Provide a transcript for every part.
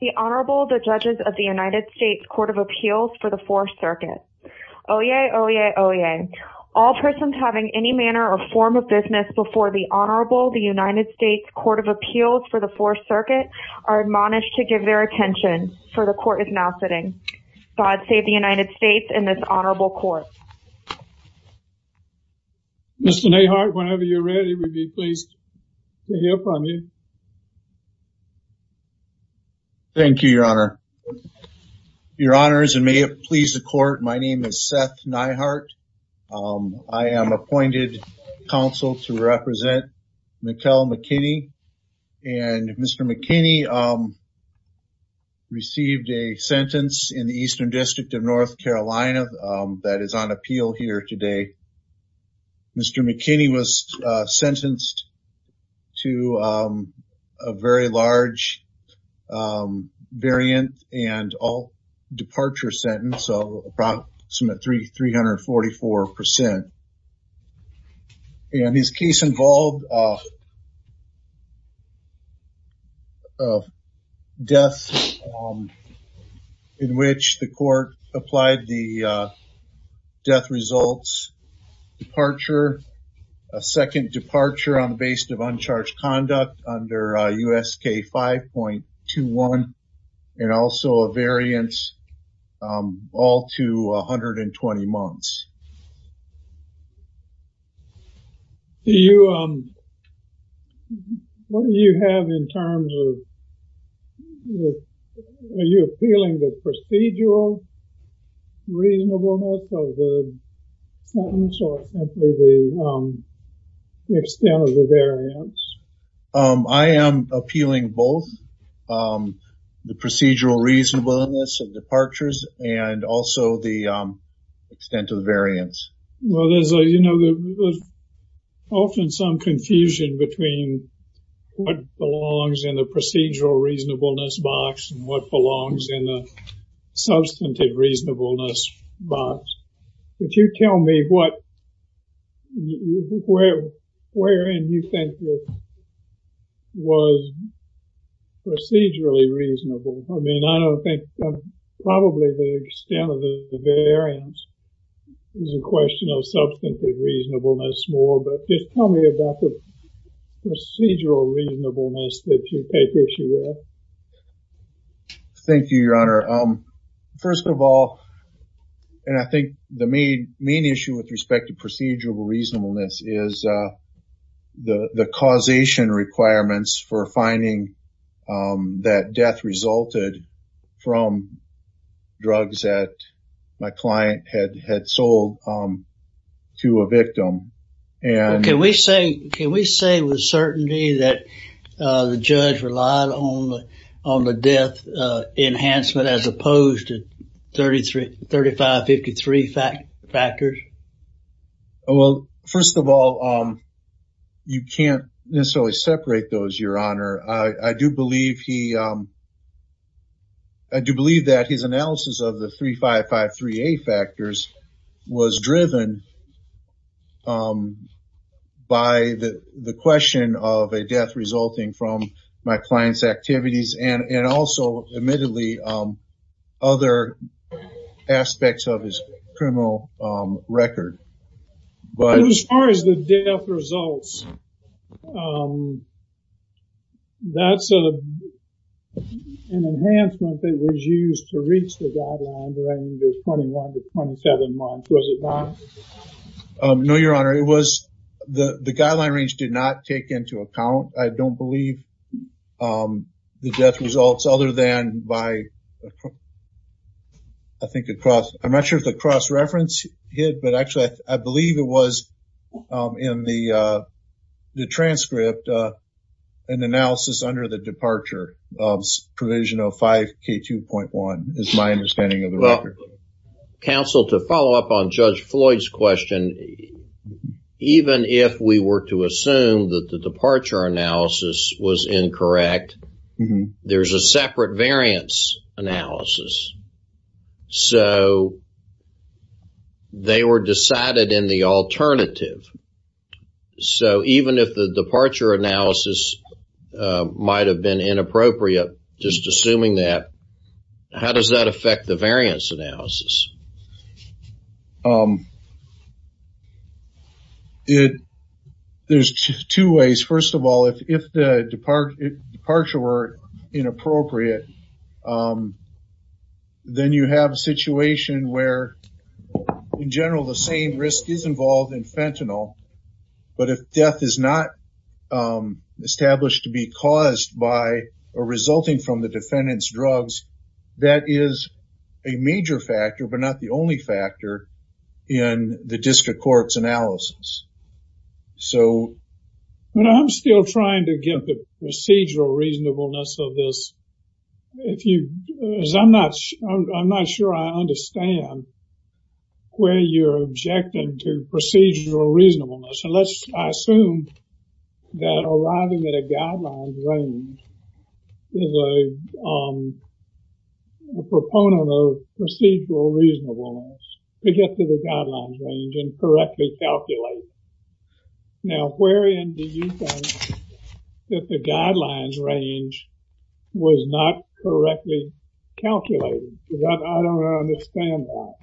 The Honorable, the Judges of the United States Court of Appeals for the Fourth Circuit. Oyez, oyez, oyez. All persons having any manner or form of business before the Honorable, the United States Court of Appeals for the Fourth Circuit are admonished to give their attention for the Court is now sitting. God save the United States and this Honorable Court. Mr. Neihardt, whenever you're ready, we'd be pleased to hear from you. Thank you, Your Honor. Your Honors, and may it please the Court, my name is Seth Neihardt. I am appointed counsel to represent Mikkel McKinnie and Mr. McKinnie received a sentence in the Eastern District of North Carolina that is on appeal here today. Mr. McKinnie was sentenced to a very large variant and all departure sentence, so approximately 344%. And his case involved a death in which the Court applied the death results, departure, a second departure on the basis of uncharged conduct under USK 5.21, and also a variance all to 120 months. Do you, what do you have in terms of, are you appealing the procedural reasonableness of the sentence or simply the extent of the variance? I am appealing both the procedural reasonableness of departures and also the extent of the variance. Well, there's a, you know, often some confusion between what belongs in the procedural reasonableness box and what belongs in the substantive reasonableness box. Could you tell me what, where in you think this was procedurally reasonable? I mean, I don't think, probably the extent of the variance is a question of substantive reasonableness more, but just tell me about the procedural reasonableness that you take issue with. Thank you, Your Honor. First of all, and I think the main issue with respect to procedural reasonableness is the causation requirements for finding that death resulted from drugs that my client had sold to a victim. Can we say, can we say with certainty that the judge relied on the death enhancement as opposed to 3553 factors? Well first of all, you can't necessarily separate those, Your Honor. I do believe he, I do believe that his analysis of the 3553A factors was driven by the question of a death resulting from my client's activities and also admittedly other aspects of his criminal record. But as far as the death results, that's an enhancement that was used to reach the guideline range of 21 to 27 months, was it not? No, Your Honor. It was, the guideline range did not take into account, I don't believe, the death results other than by, I think it crossed, I'm not sure if the cross-reference hit, but actually I believe it was in the transcript, an analysis under the departure of provisional 5K2.1 is my understanding of the record. Counsel, to follow up on Judge Floyd's question, even if we were to assume that the departure analysis was incorrect, there's a separate variance analysis. So they were decided in the alternative. So even if the departure analysis might have been inappropriate, just assuming that, how does that affect the variance analysis? There's two ways. First of all, if the departure were inappropriate, then you have a situation where in general the same risk is involved in fentanyl, but if death is not established to be caused by or resulting from the defendant's drugs, that is a major factor, but not the only factor in the district court's analysis. So when I'm still trying to get the procedural reasonableness of this, if you, as I'm not sure I understand where you're objecting to procedural reasonableness, unless I assume that arriving at a guidelines range is a proponent of procedural reasonableness, to get to the guidelines range and correctly calculate. Now where in do you think that the guidelines range was not correctly calculated? Because I don't understand that.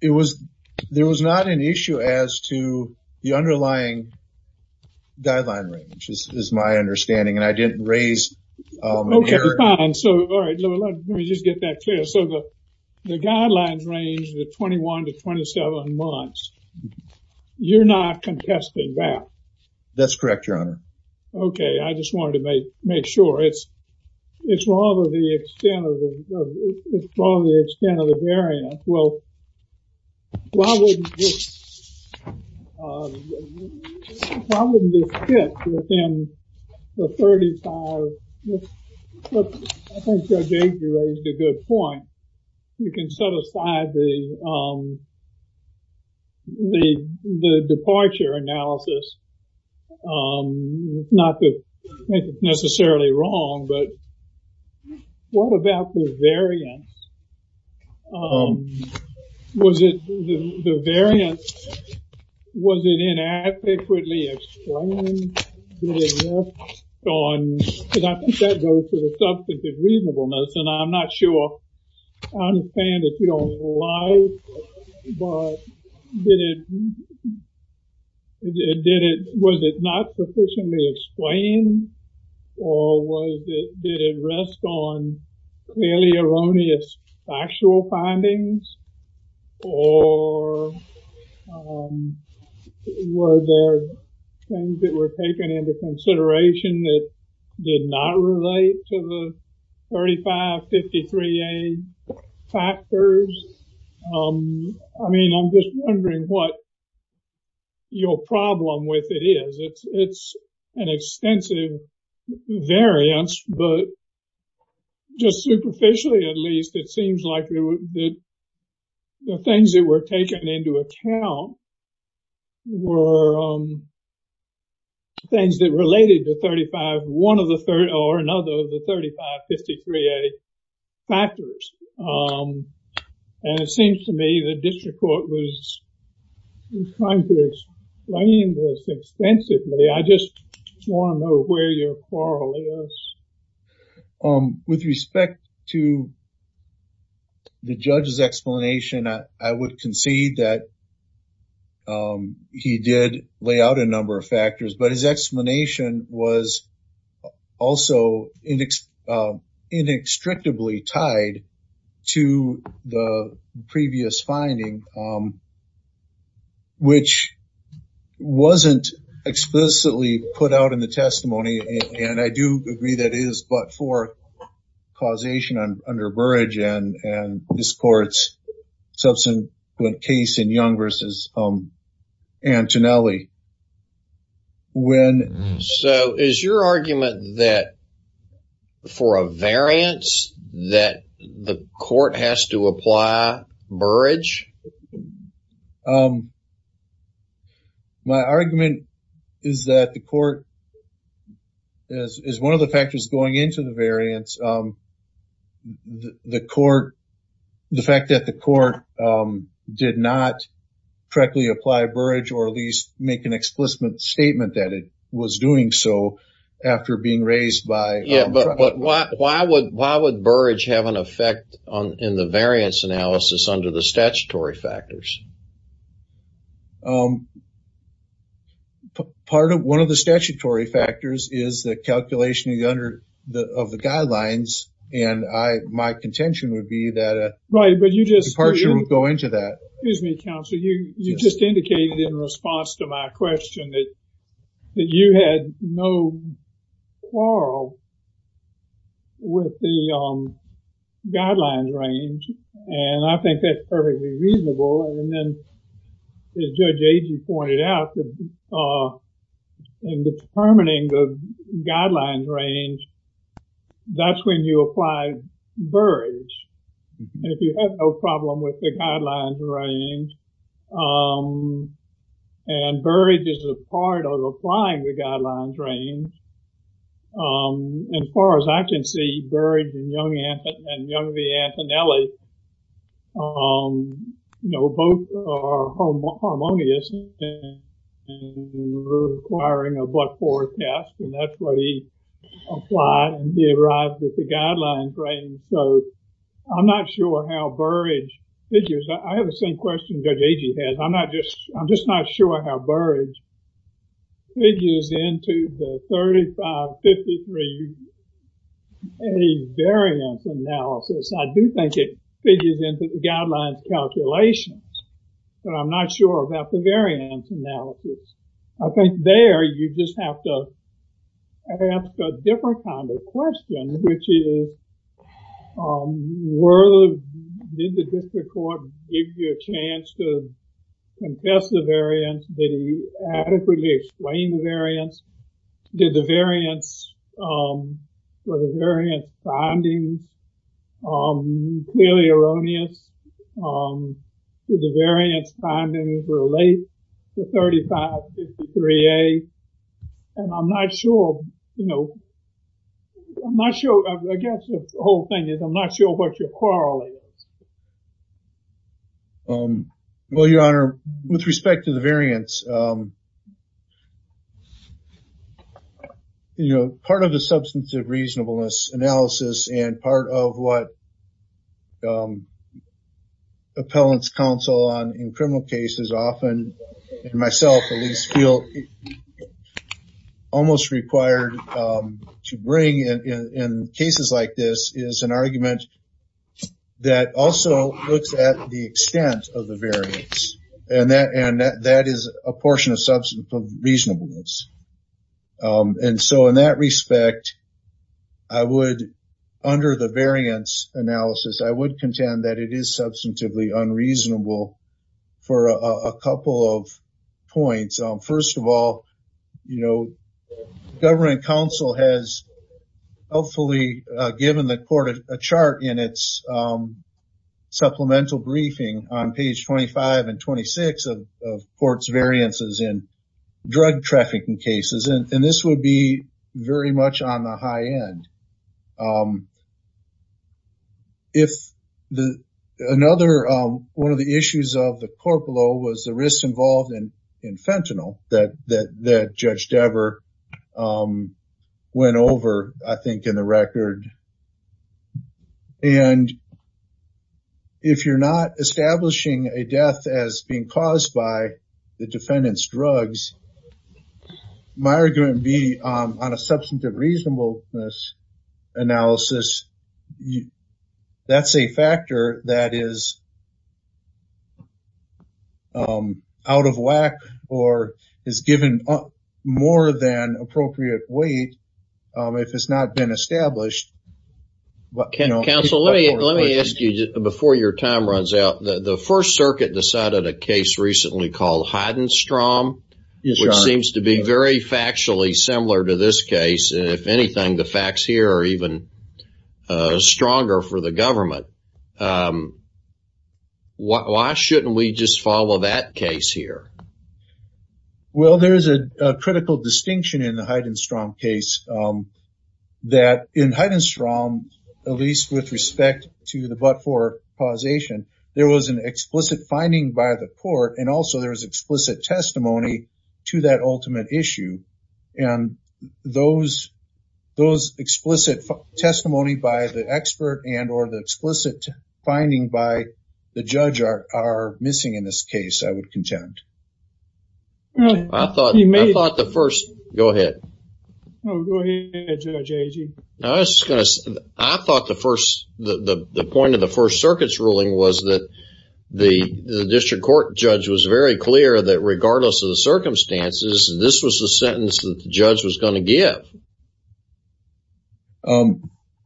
It was, there was not an issue as to the underlying guideline range, is my understanding, and I didn't raise. Okay, fine. So let me just get that clear. So the guidelines range, the 21 to 27 months, you're not contesting that? That's correct, Your Honor. Okay, I just wanted to make sure. It's rather the extent of the variance. Well, why wouldn't this fit within the 35, I think Judge Agee raised a good point. You can set aside the departure analysis, not to make it necessarily wrong, but what about the variance? Was it, the variance, was it inadequately explained? Did it rest on, because I think that goes to the substantive reasonableness, and I'm not sure, I understand that you don't like, but did it, did it, was it not sufficiently explained, or did it rest on clearly erroneous factual findings, or were there things that were taken into consideration that did not relate to the 3553A factors? I mean, I'm just wondering what your problem with it is. It's an extensive variance, but just superficially, at least, it seems like the things that were taken into account were things that related to 35, one of the, or another of the 3553A factors, and it seems to me the district court was trying to explain this extensively. I just want to know where your quarrel is. With respect to the judge's explanation, I would concede that he did lay out a number of factors, but his explanation was also inextricably tied to the previous finding, which wasn't explicitly put out in the testimony, and I do agree that it is, but for causation under Burrage and this court's substantive case in Young versus Antonelli. So, is your argument that for a variance that the court has to apply Burrage? My argument is that the court, as one of the factors going into the variance, the court, the fact that the court did not correctly apply Burrage or at least make an explicit statement that it was doing so after being raised by- Yeah, but why would Burrage have an effect in the variance analysis under the statute? Statutory factors. Part of one of the statutory factors is the calculation of the guidelines, and my contention would be that a- Right, but you just- Departure would go into that. Excuse me, counsel. You just indicated in response to my question that you had no quarrel with the guidelines range, and I think that's perfectly reasonable, and then, as Judge Agee pointed out, in determining the guidelines range, that's when you apply Burrage. If you have no problem with the guidelines range, and Burrage is a part of applying the guidelines range, as far as I can see, Burrage and Young v. Antonelli, you know, both are harmonious and requiring a but-for test, and that's what he applied and he arrived at the guidelines range, so I'm not sure how Burrage figures. I have the same question Judge Agee has. I'm just not sure how Burrage figures into the 35-53 age variance analysis. I do think it figures into the guidelines calculations, but I'm not sure about the variance analysis. I think there, you just have to ask a different kind of question, which is, were the, did the district court give you a chance to confess the variance? Did he adequately explain the variance? Did the variance, were the variance findings clearly erroneous? Did the variance findings relate to 35-53A, and I'm not sure, you know, I'm not sure, I guess the whole thing is, I'm not sure what your quarrel is. Well, your honor, with respect to the variance, you know, part of the substance of reasonableness analysis and part of what appellants counsel on in criminal cases often, and myself at least, feel almost required to bring in cases like this is an argument that also looks at the extent of the variance, and that is a portion of substance of reasonableness. And so in that respect, I would, under the variance analysis, I would contend that it is substantively unreasonable for a couple of points. First of all, you know, government counsel has hopefully given the court a chart in its supplemental briefing on page 25 and 26 of court's variances in drug trafficking cases, and this would be very much on the high end. If another one of the issues of the court below was the risk involved in fentanyl that Judge Dever went over, I think, in the record, and if you're not establishing a death as being caused by defendant's drugs, my argument would be on a substantive reasonableness analysis, that's a factor that is out of whack or is given more than appropriate weight if it's not been established. Counsel, let me ask you before your time runs out. The First Circuit decided a case recently called Heidenstrom, which seems to be very factually similar to this case, and if anything, the facts here are even stronger for the government. Why shouldn't we just follow that case here? Well, there is a critical distinction in the Heidenstrom case that in Heidenstrom, at least with respect to the but-for causation, there was an explicit finding by the court, and also there was explicit testimony to that ultimate issue, and those explicit testimony by the expert and or the explicit finding by the judge are missing in this case, I would contend. I thought the first... Go ahead. Oh, go ahead, Judge Agee. I was just going to say, I thought the point of the First Circuit's ruling was that the district court judge was very clear that regardless of the circumstances, this was the sentence that the judge was going to give.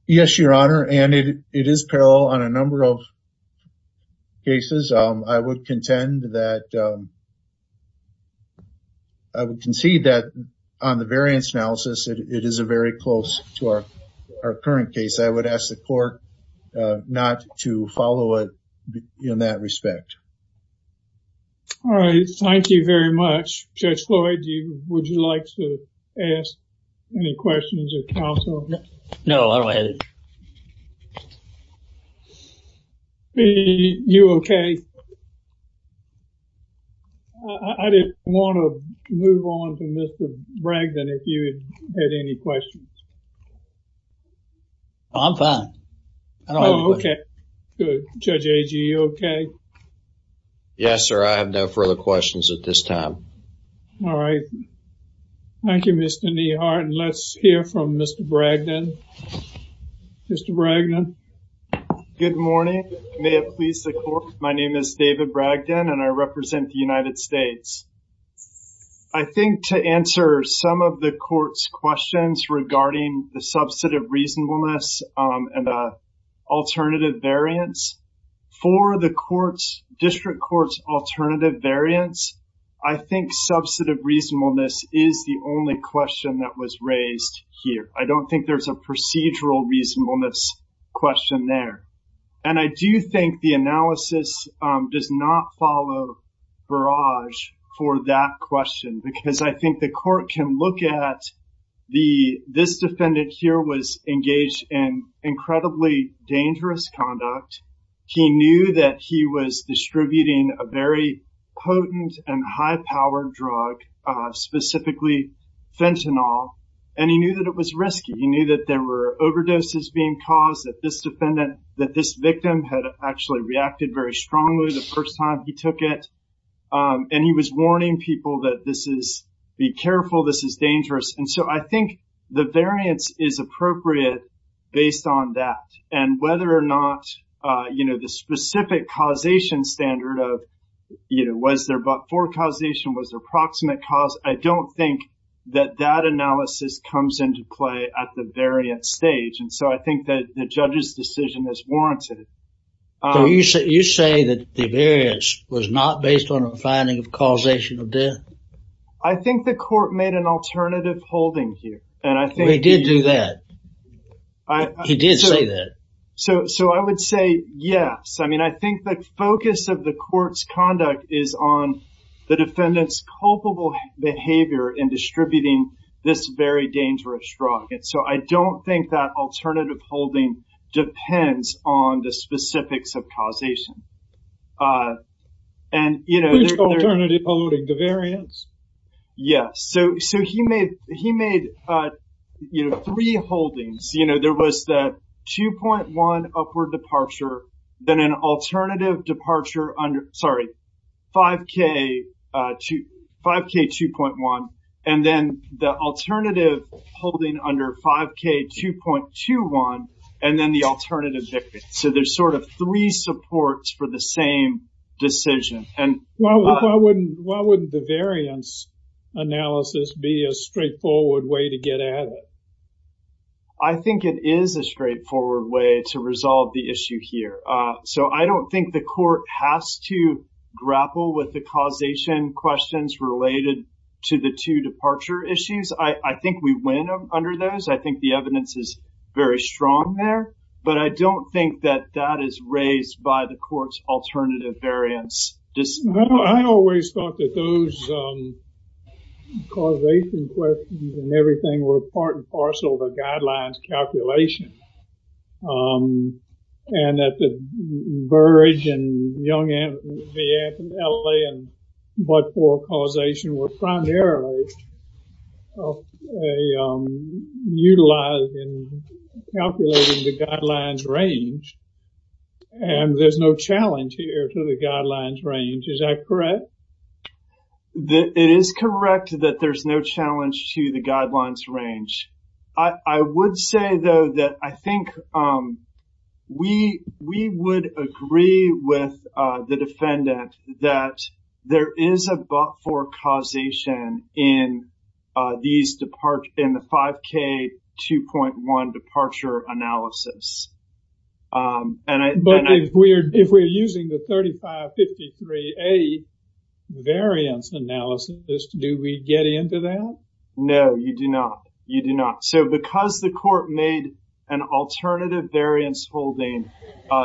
Yes, Your Honor, and it is parallel on a number of cases. I would contend that... Our current case, I would ask the court not to follow it in that respect. All right. Thank you very much. Judge Floyd, would you like to ask any questions of counsel? No, I don't have any. You okay? I didn't want to move on to Mr. Bragdon if you had any questions. No, I'm fine. Okay, good. Judge Agee, you okay? Yes, sir. I have no further questions at this time. All right. Thank you, Mr. Nehart. Let's hear from Mr. Bragdon. Mr. Bragdon. Good morning. May it please the court. My name is David Bragdon, and I represent the United States. I think to answer some of the court's questions regarding the substantive reasonableness and the alternative variants, for the district court's alternative variants, I think substantive reasonableness is the only question that was raised here. I don't think there's a procedural reasonableness question there. And I do think the analysis does not follow Barrage for that question, because I think the court can look at this defendant here was engaged in incredibly dangerous conduct. He knew that he was distributing a very potent and high-powered drug, specifically fentanyl, and he knew that it was risky. He knew that there were overdoses being caused, that this victim had actually reacted very strongly the first time he took it. And he was warning people that this is, be careful, this is dangerous. And so I think the variance is appropriate based on that. And whether or not, you know, the specific causation standard of, you know, was there but for causation, was there approximate cause, I don't think that that analysis comes into play at the variant stage. So I think that the judge's decision is warranted. So you say that the variance was not based on a finding of causation of death? I think the court made an alternative holding here. And I think... He did do that. He did say that. So I would say yes. I mean, I think the focus of the court's conduct is on the defendant's culpable behavior in distributing this very dangerous drug. So I don't think that alternative holding depends on the specifics of causation. And, you know... Which alternative holding, the variance? Yes. So he made, he made, you know, three holdings, you know, there was the 2.1 upward departure, then an alternative departure under, sorry, 5K, 5K 2.1, and then the alternative holding under 5K 2.21, and then the alternative. So there's sort of three supports for the same decision. And why wouldn't the variance analysis be a straightforward way to get at it? I think it is a straightforward way to resolve the issue here. So I don't think the court has to grapple with the causation questions related to the two departure issues. I think we win under those. I think the evidence is very strong there. But I don't think that that is raised by the court's alternative variance. I always thought that those causation questions and everything were part and parcel of the guidelines calculation. Um, and that the Burrage and Young-Anthony, the LA and Budford causation were primarily of a, um, utilized in calculating the guidelines range. And there's no challenge here to the guidelines range. Is that correct? It is correct that there's no challenge to the guidelines range. I would say, though, that I think we would agree with the defendant that there is a Budford causation in the 5K 2.1 departure analysis. But if we're using the 3553A variance analysis, do we get into that? No, you do not. You do not. So because the court made an alternative variance holding,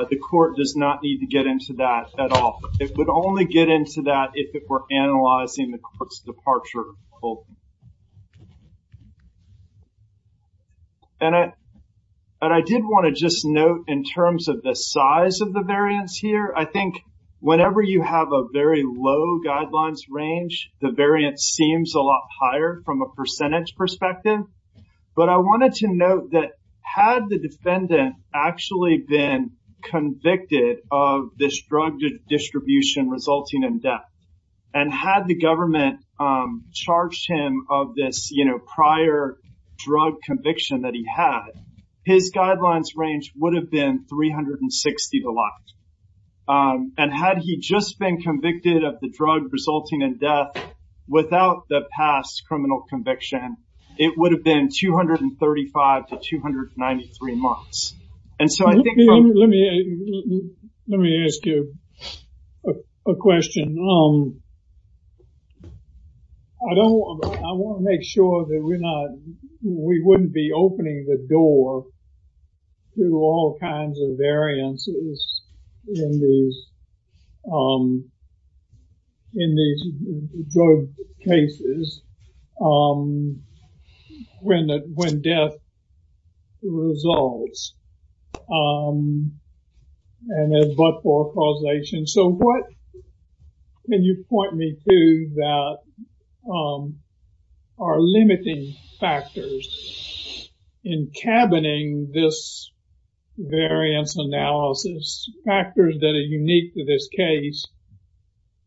the court does not need to get into that at all. It would only get into that if it were analyzing the court's departure. And I did want to just note in terms of the size of the variance here, I think whenever you have a very low guidelines range, the variance seems a lot higher from a percentage perspective. But I wanted to note that had the defendant actually been convicted of this drug distribution resulting in death, and had the government charged him of this, you know, prior drug conviction that he had, his guidelines range would have been 360 to the left. And had he just been convicted of the drug resulting in death without the past criminal conviction, it would have been 235 to 293 months. And so I think... Let me ask you a question. I want to make sure that we're not, we wouldn't be opening the door to all kinds of variances. In these drug cases, when death resolves. And then but-for causation. So what can you point me to that are limiting factors in cabining this variance analysis factors that are unique to this case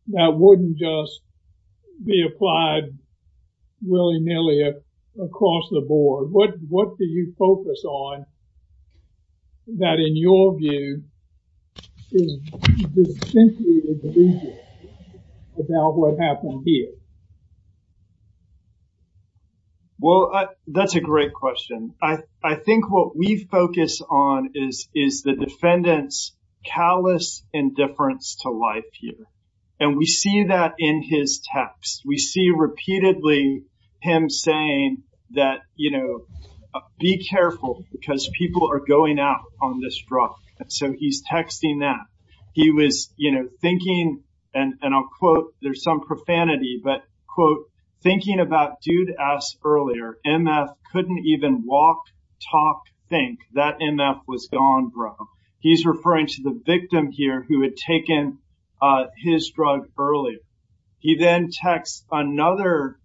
that wouldn't just be applied willy-nilly across the board? What do you focus on that, in your view, is distinctly individual about what happened here? Well, that's a great question. I think what we focus on is the defendant's callous indifference to life here. And we see that in his text. We see repeatedly him saying that, you know, be careful because people are going out on this drug. And so he's texting that. He was, you know, thinking, and I'll quote, there's some profanity, but quote, thinking about dude ass earlier, MF couldn't even walk, talk, think that MF was gone, bro. He's referring to the victim here who had taken his drug earlier. He then texts another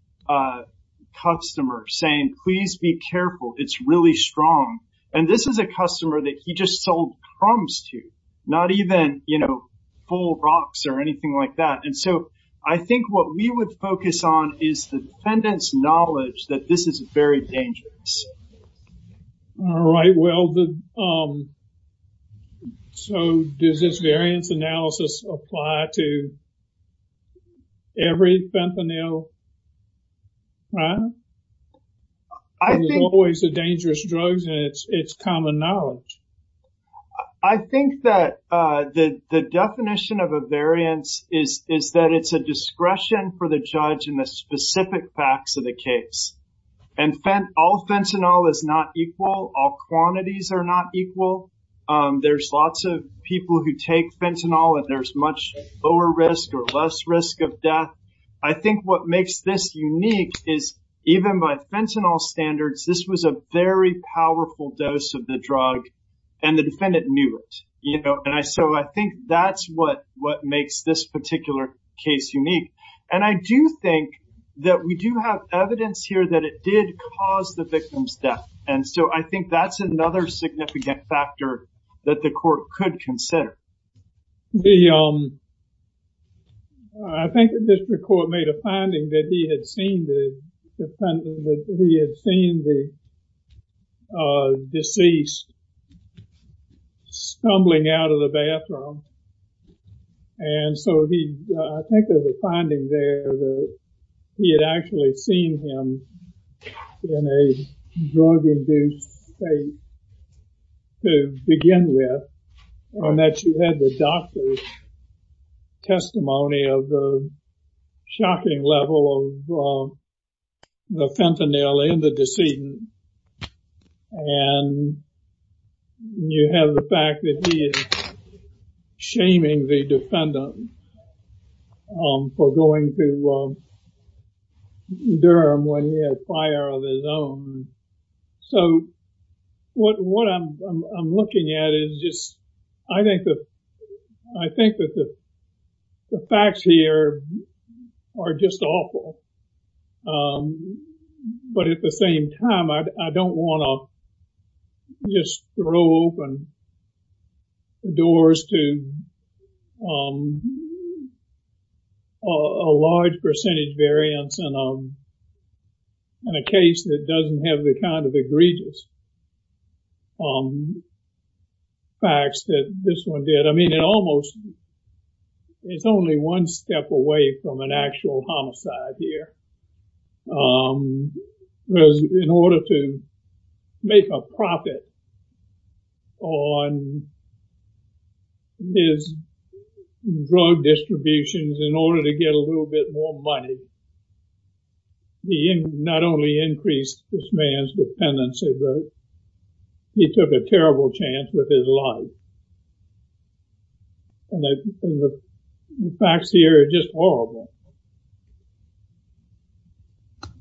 customer saying, please be careful, it's really strong. And this is a customer that he just sold crumbs to, not even, you know, full rocks or anything like that. And so I think what we would focus on is the defendant's knowledge that this is very dangerous. All right. Well, so does this variance analysis apply to every fentanyl? I think it's always a dangerous drugs and it's common knowledge. I think that the definition of a variance is that it's a discretion for the judge in the specific facts of the case. And all fentanyl is not equal. All quantities are not equal. There's lots of people who take fentanyl and there's much lower risk or less risk of death. I think what makes this unique is even by fentanyl standards, this was a very powerful dose of the drug and the defendant knew it, you know. And so I think that's what makes this particular case unique. And I do think that we do have evidence here that it did cause the victim's death. And so I think that's another significant factor that the court could consider. The, I think the district court made a finding that he had seen the defendant, he had seen the deceased stumbling out of the bathroom. And so he, I think there's a finding there that he had actually seen him in a drug-induced state to begin with. And that you had the doctor's testimony of the shocking level of the fentanyl in the decedent. And you have the fact that he is shaming the defendant for going to Durham when he had a fire of his own. So what I'm looking at is just, I think that the facts here are just awful. But at the same time, I don't want to just throw open doors to a large percentage variance in a case that doesn't have the kind of egregious facts that this one did. I mean, it almost, it's only one step away from an actual homicide here. But in order to make a profit on his drug distributions, in order to get a little bit more money, he not only increased this man's dependency, but he took a terrible chance with his life. And the facts here are just horrible.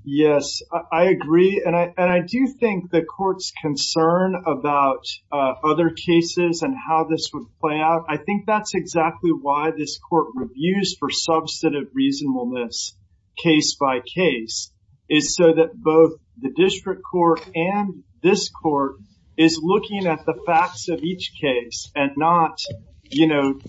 Yes, I agree. And I do think the court's concern about other cases and how this would play out, I think that's exactly why this court reviews for substantive reasonableness, case by case, is so that both the district court and this court is looking at the facts of each case and not, you know,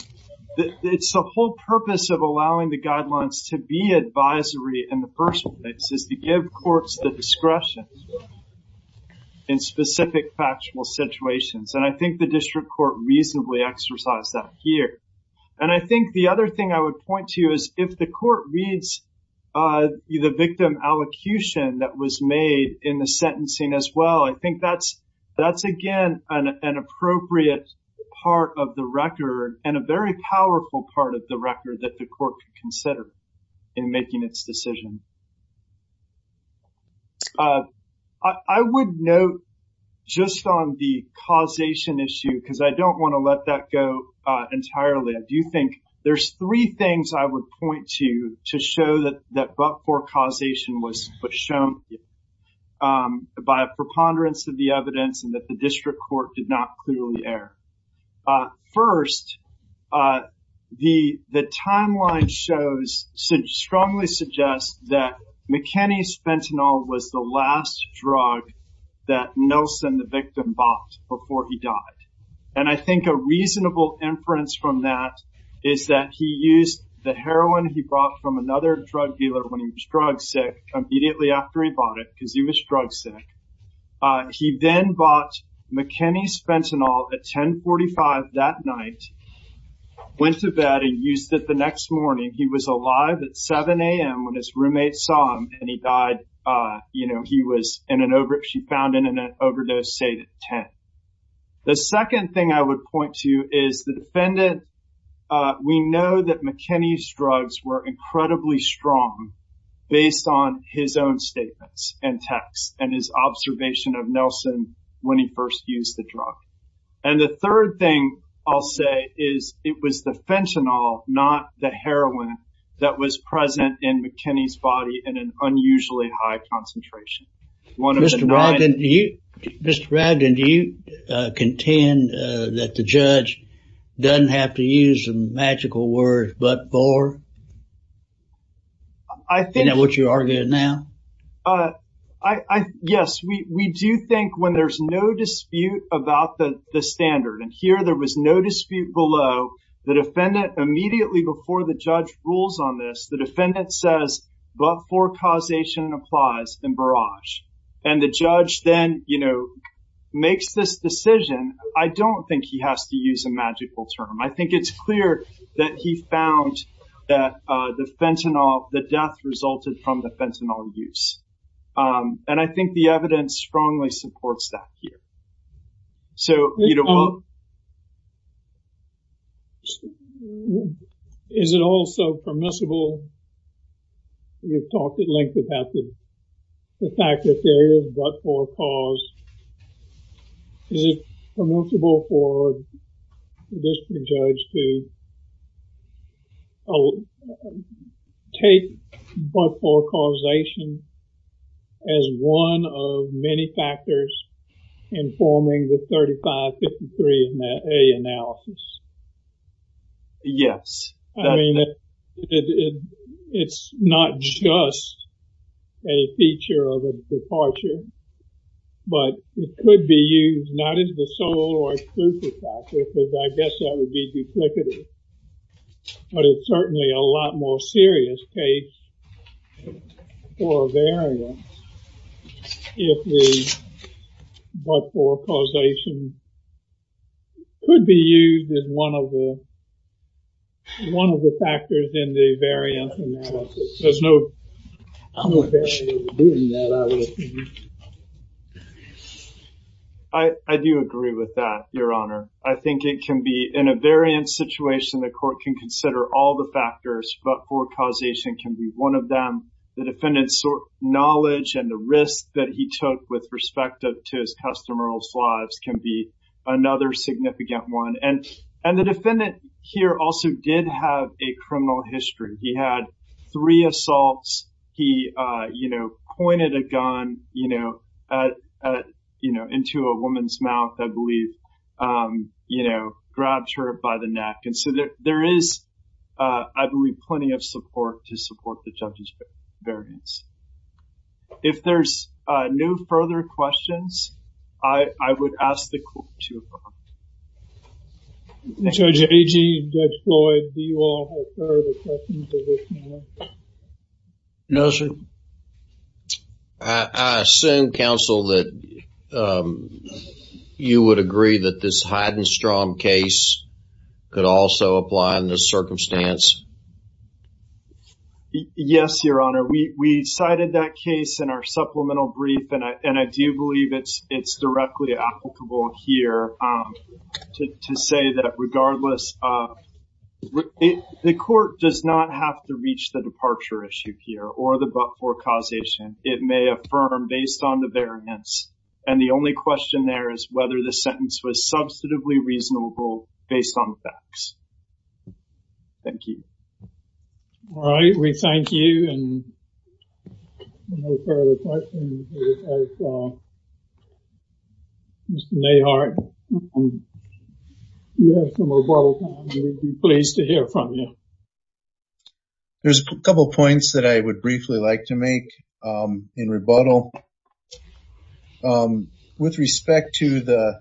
it's the whole purpose of allowing the guidelines to be advisory in the first place, is to give courts the discretion in specific factual situations. And I think the district court reasonably exercised that here. And I think the other thing I would point to is if the court reads the victim allocution that was made in the sentencing as well, I think that's, again, an appropriate part of the record and a very powerful part of the record that the court could consider in making its decision. But I would note just on the causation issue, because I don't want to let that go entirely, I do think there's three things I would point to, to show that that but-for causation was shown by a preponderance of the evidence and that the district court did not clearly err. First, the timeline shows, strongly suggests that McKinney's fentanyl was the last drug that Nelson, the victim, bought before he died. And I think a reasonable inference from that is that he used the heroin he brought from another drug dealer when he was drug sick, immediately after he bought it, because he was drug sick. He then bought McKinney's fentanyl at 10.45 that night, went to bed and used it the next morning. He was alive at 7 a.m. when his roommate saw him and he died, you know, he was in an over, she found him in an overdose state at 10. The second thing I would point to is the defendant, we know that McKinney's drugs were incredibly strong based on his own statements and texts and his observation of Nelson when he first used the drug. And the third thing I'll say is it was the fentanyl, not the heroin, that was present in McKinney's body in an unusually high concentration. Mr. Brogdon, do you contend that the judge doesn't have to use the magical word, but for? Isn't that what you're arguing now? Yes, we do think when there's no dispute about the standard, and here there was no dispute below, the defendant immediately before the judge rules on this, the defendant says, but for causation applies in barrage. And the judge then, you know, makes this decision. I don't think he has to use a magical term. I think it's clear that he found that the fentanyl, the death resulted from the fentanyl use. And I think the evidence strongly supports that here. So, you know, is it also permissible, you've talked at length about the fact that there is but for cause, is it permissible for a district judge to take but for causation as one of many cases? Yes. It's not just a feature of a departure, but it could be used not as the sole or exclusive factor, because I guess that would be duplicative. But it's certainly a lot more serious case for a variant if the but for causation could be used as one of the factors in the variant. I do agree with that, Your Honor. I think it can be in a variant situation, the court can consider all the factors, but for causation can be one of them. The defendant's knowledge and the risk that he took with respect to his customer's lives can be another significant one. And the defendant here also did have a criminal history. He had three assaults. He, you know, pointed a gun, you know, into a woman's mouth, I believe, you know, grabbed her by the neck. And so there is, I believe, plenty of support to support the judge's variance. If there's no further questions, I would ask the court to adjourn. So JG, Judge Floyd, do you all have further questions of this matter? No, sir. I assume, counsel, that you would agree that this Heidenstrom case could also apply in this circumstance? Yes, Your Honor. We cited that case in our supplemental brief, and I do believe it's directly applicable here to say that regardless, the court does not have to reach the departure issue here or causation. It may affirm based on the variance. And the only question there is whether the sentence was substantively reasonable based on the facts. Thank you. All right. We thank you. And no further questions. Mr. Nehart, you have some rebuttal time. We'd be pleased to hear from you. There's a couple of points that I would briefly like to make in rebuttal. With respect to the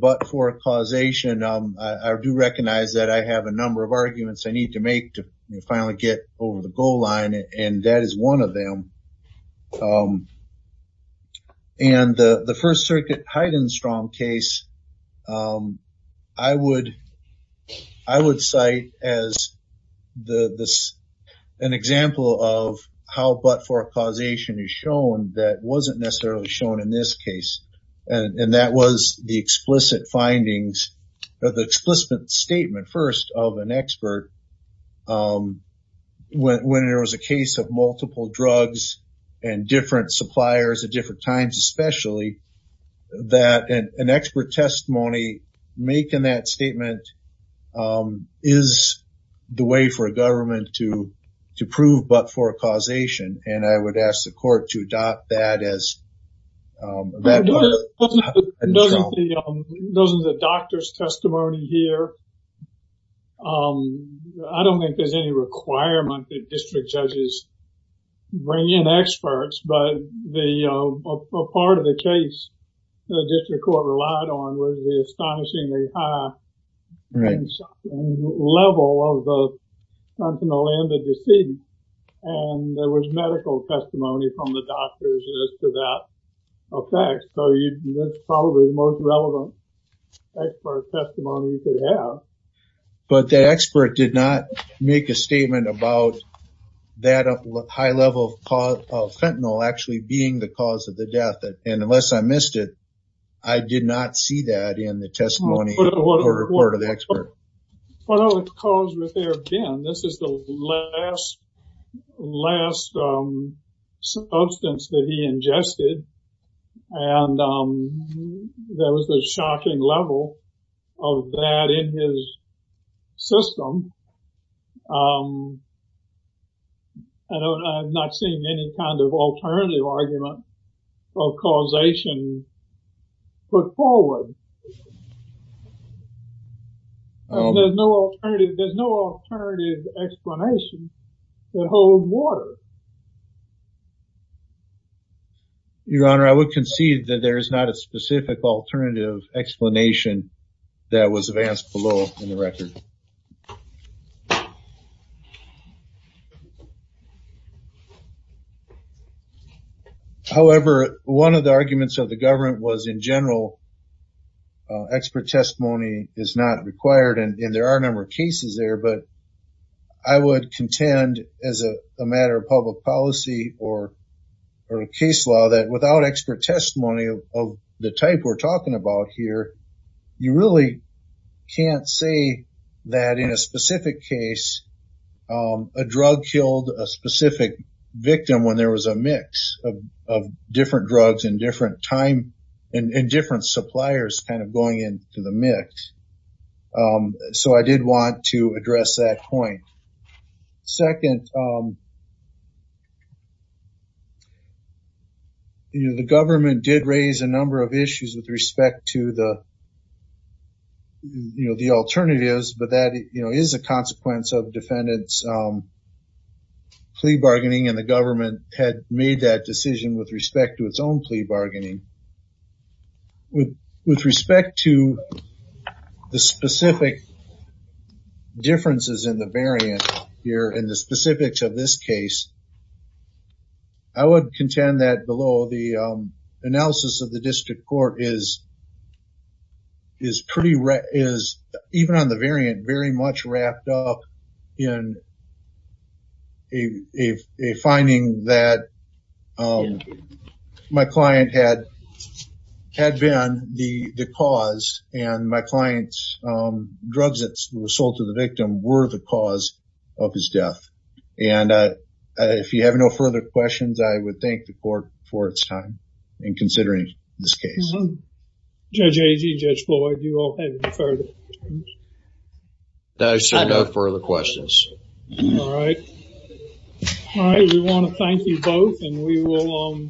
but-for causation, I do recognize that I have a number of arguments I need to make to finally get over the goal line, and that is one of them. And the First Circuit Heidenstrom case, I would cite as an example of how but-for causation is shown that wasn't necessarily shown in this case. And that was the explicit findings, the explicit statement first of an expert when there was a case of multiple drugs and different suppliers at different times especially, that an expert testimony making that statement is the way for a government to prove but-for causation. And I would ask the court to adopt that as an example. Those are the doctor's testimony here. I don't think there's any requirement that district judges bring in experts. But a part of the case the district court relied on was the astonishingly high level of the that effect. So, that's probably the most relevant but-for testimony you could have. But the expert did not make a statement about that high level of fentanyl actually being the cause of the death. And unless I missed it, I did not see that in the testimony or report of the ingested. And that was the shocking level of that in his system. I don't, I'm not seeing any kind of alternative argument of causation put forward. There's no alternative, there's no alternative explanation that holds water. Your Honor, I would concede that there is not a specific alternative explanation that was advanced below in the record. However, one of the arguments of the government was in general, expert testimony is not required and there are a number of cases there. But I would contend as a matter of public policy or case law that without expert testimony of the type we're talking about here, you really can't say that in a specific case, a drug killed a specific victim when there was a mix of different drugs and different time and different suppliers kind of going into the mix. So, I did want to address that point. Second, you know, the government did raise a number of issues with respect to the, you know, the alternatives, but that, you know, is a consequence of defendants plea bargaining and the government had made that decision with respect to its own plea bargaining. With respect to the specific differences in the variant here and the specifics of this case, I would contend that below the analysis of the district court is pretty, is even on the variant, very much wrapped up in a finding that my client had been the cause and my client's drugs that were sold to the victim were the cause of his death. And if you have no further questions, I would thank the court for its time in considering this case. Judge Agee, Judge Floyd, do you all have any further questions? No, sir. No further questions. All right. All right. We want to thank you both and we will,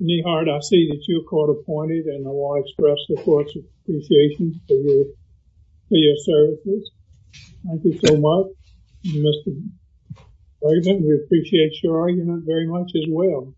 Nehart, I see that you're court appointed and I want to express the court's appreciation for your services. Thank you so much, Mr. Bregman. We appreciate your argument very much as well.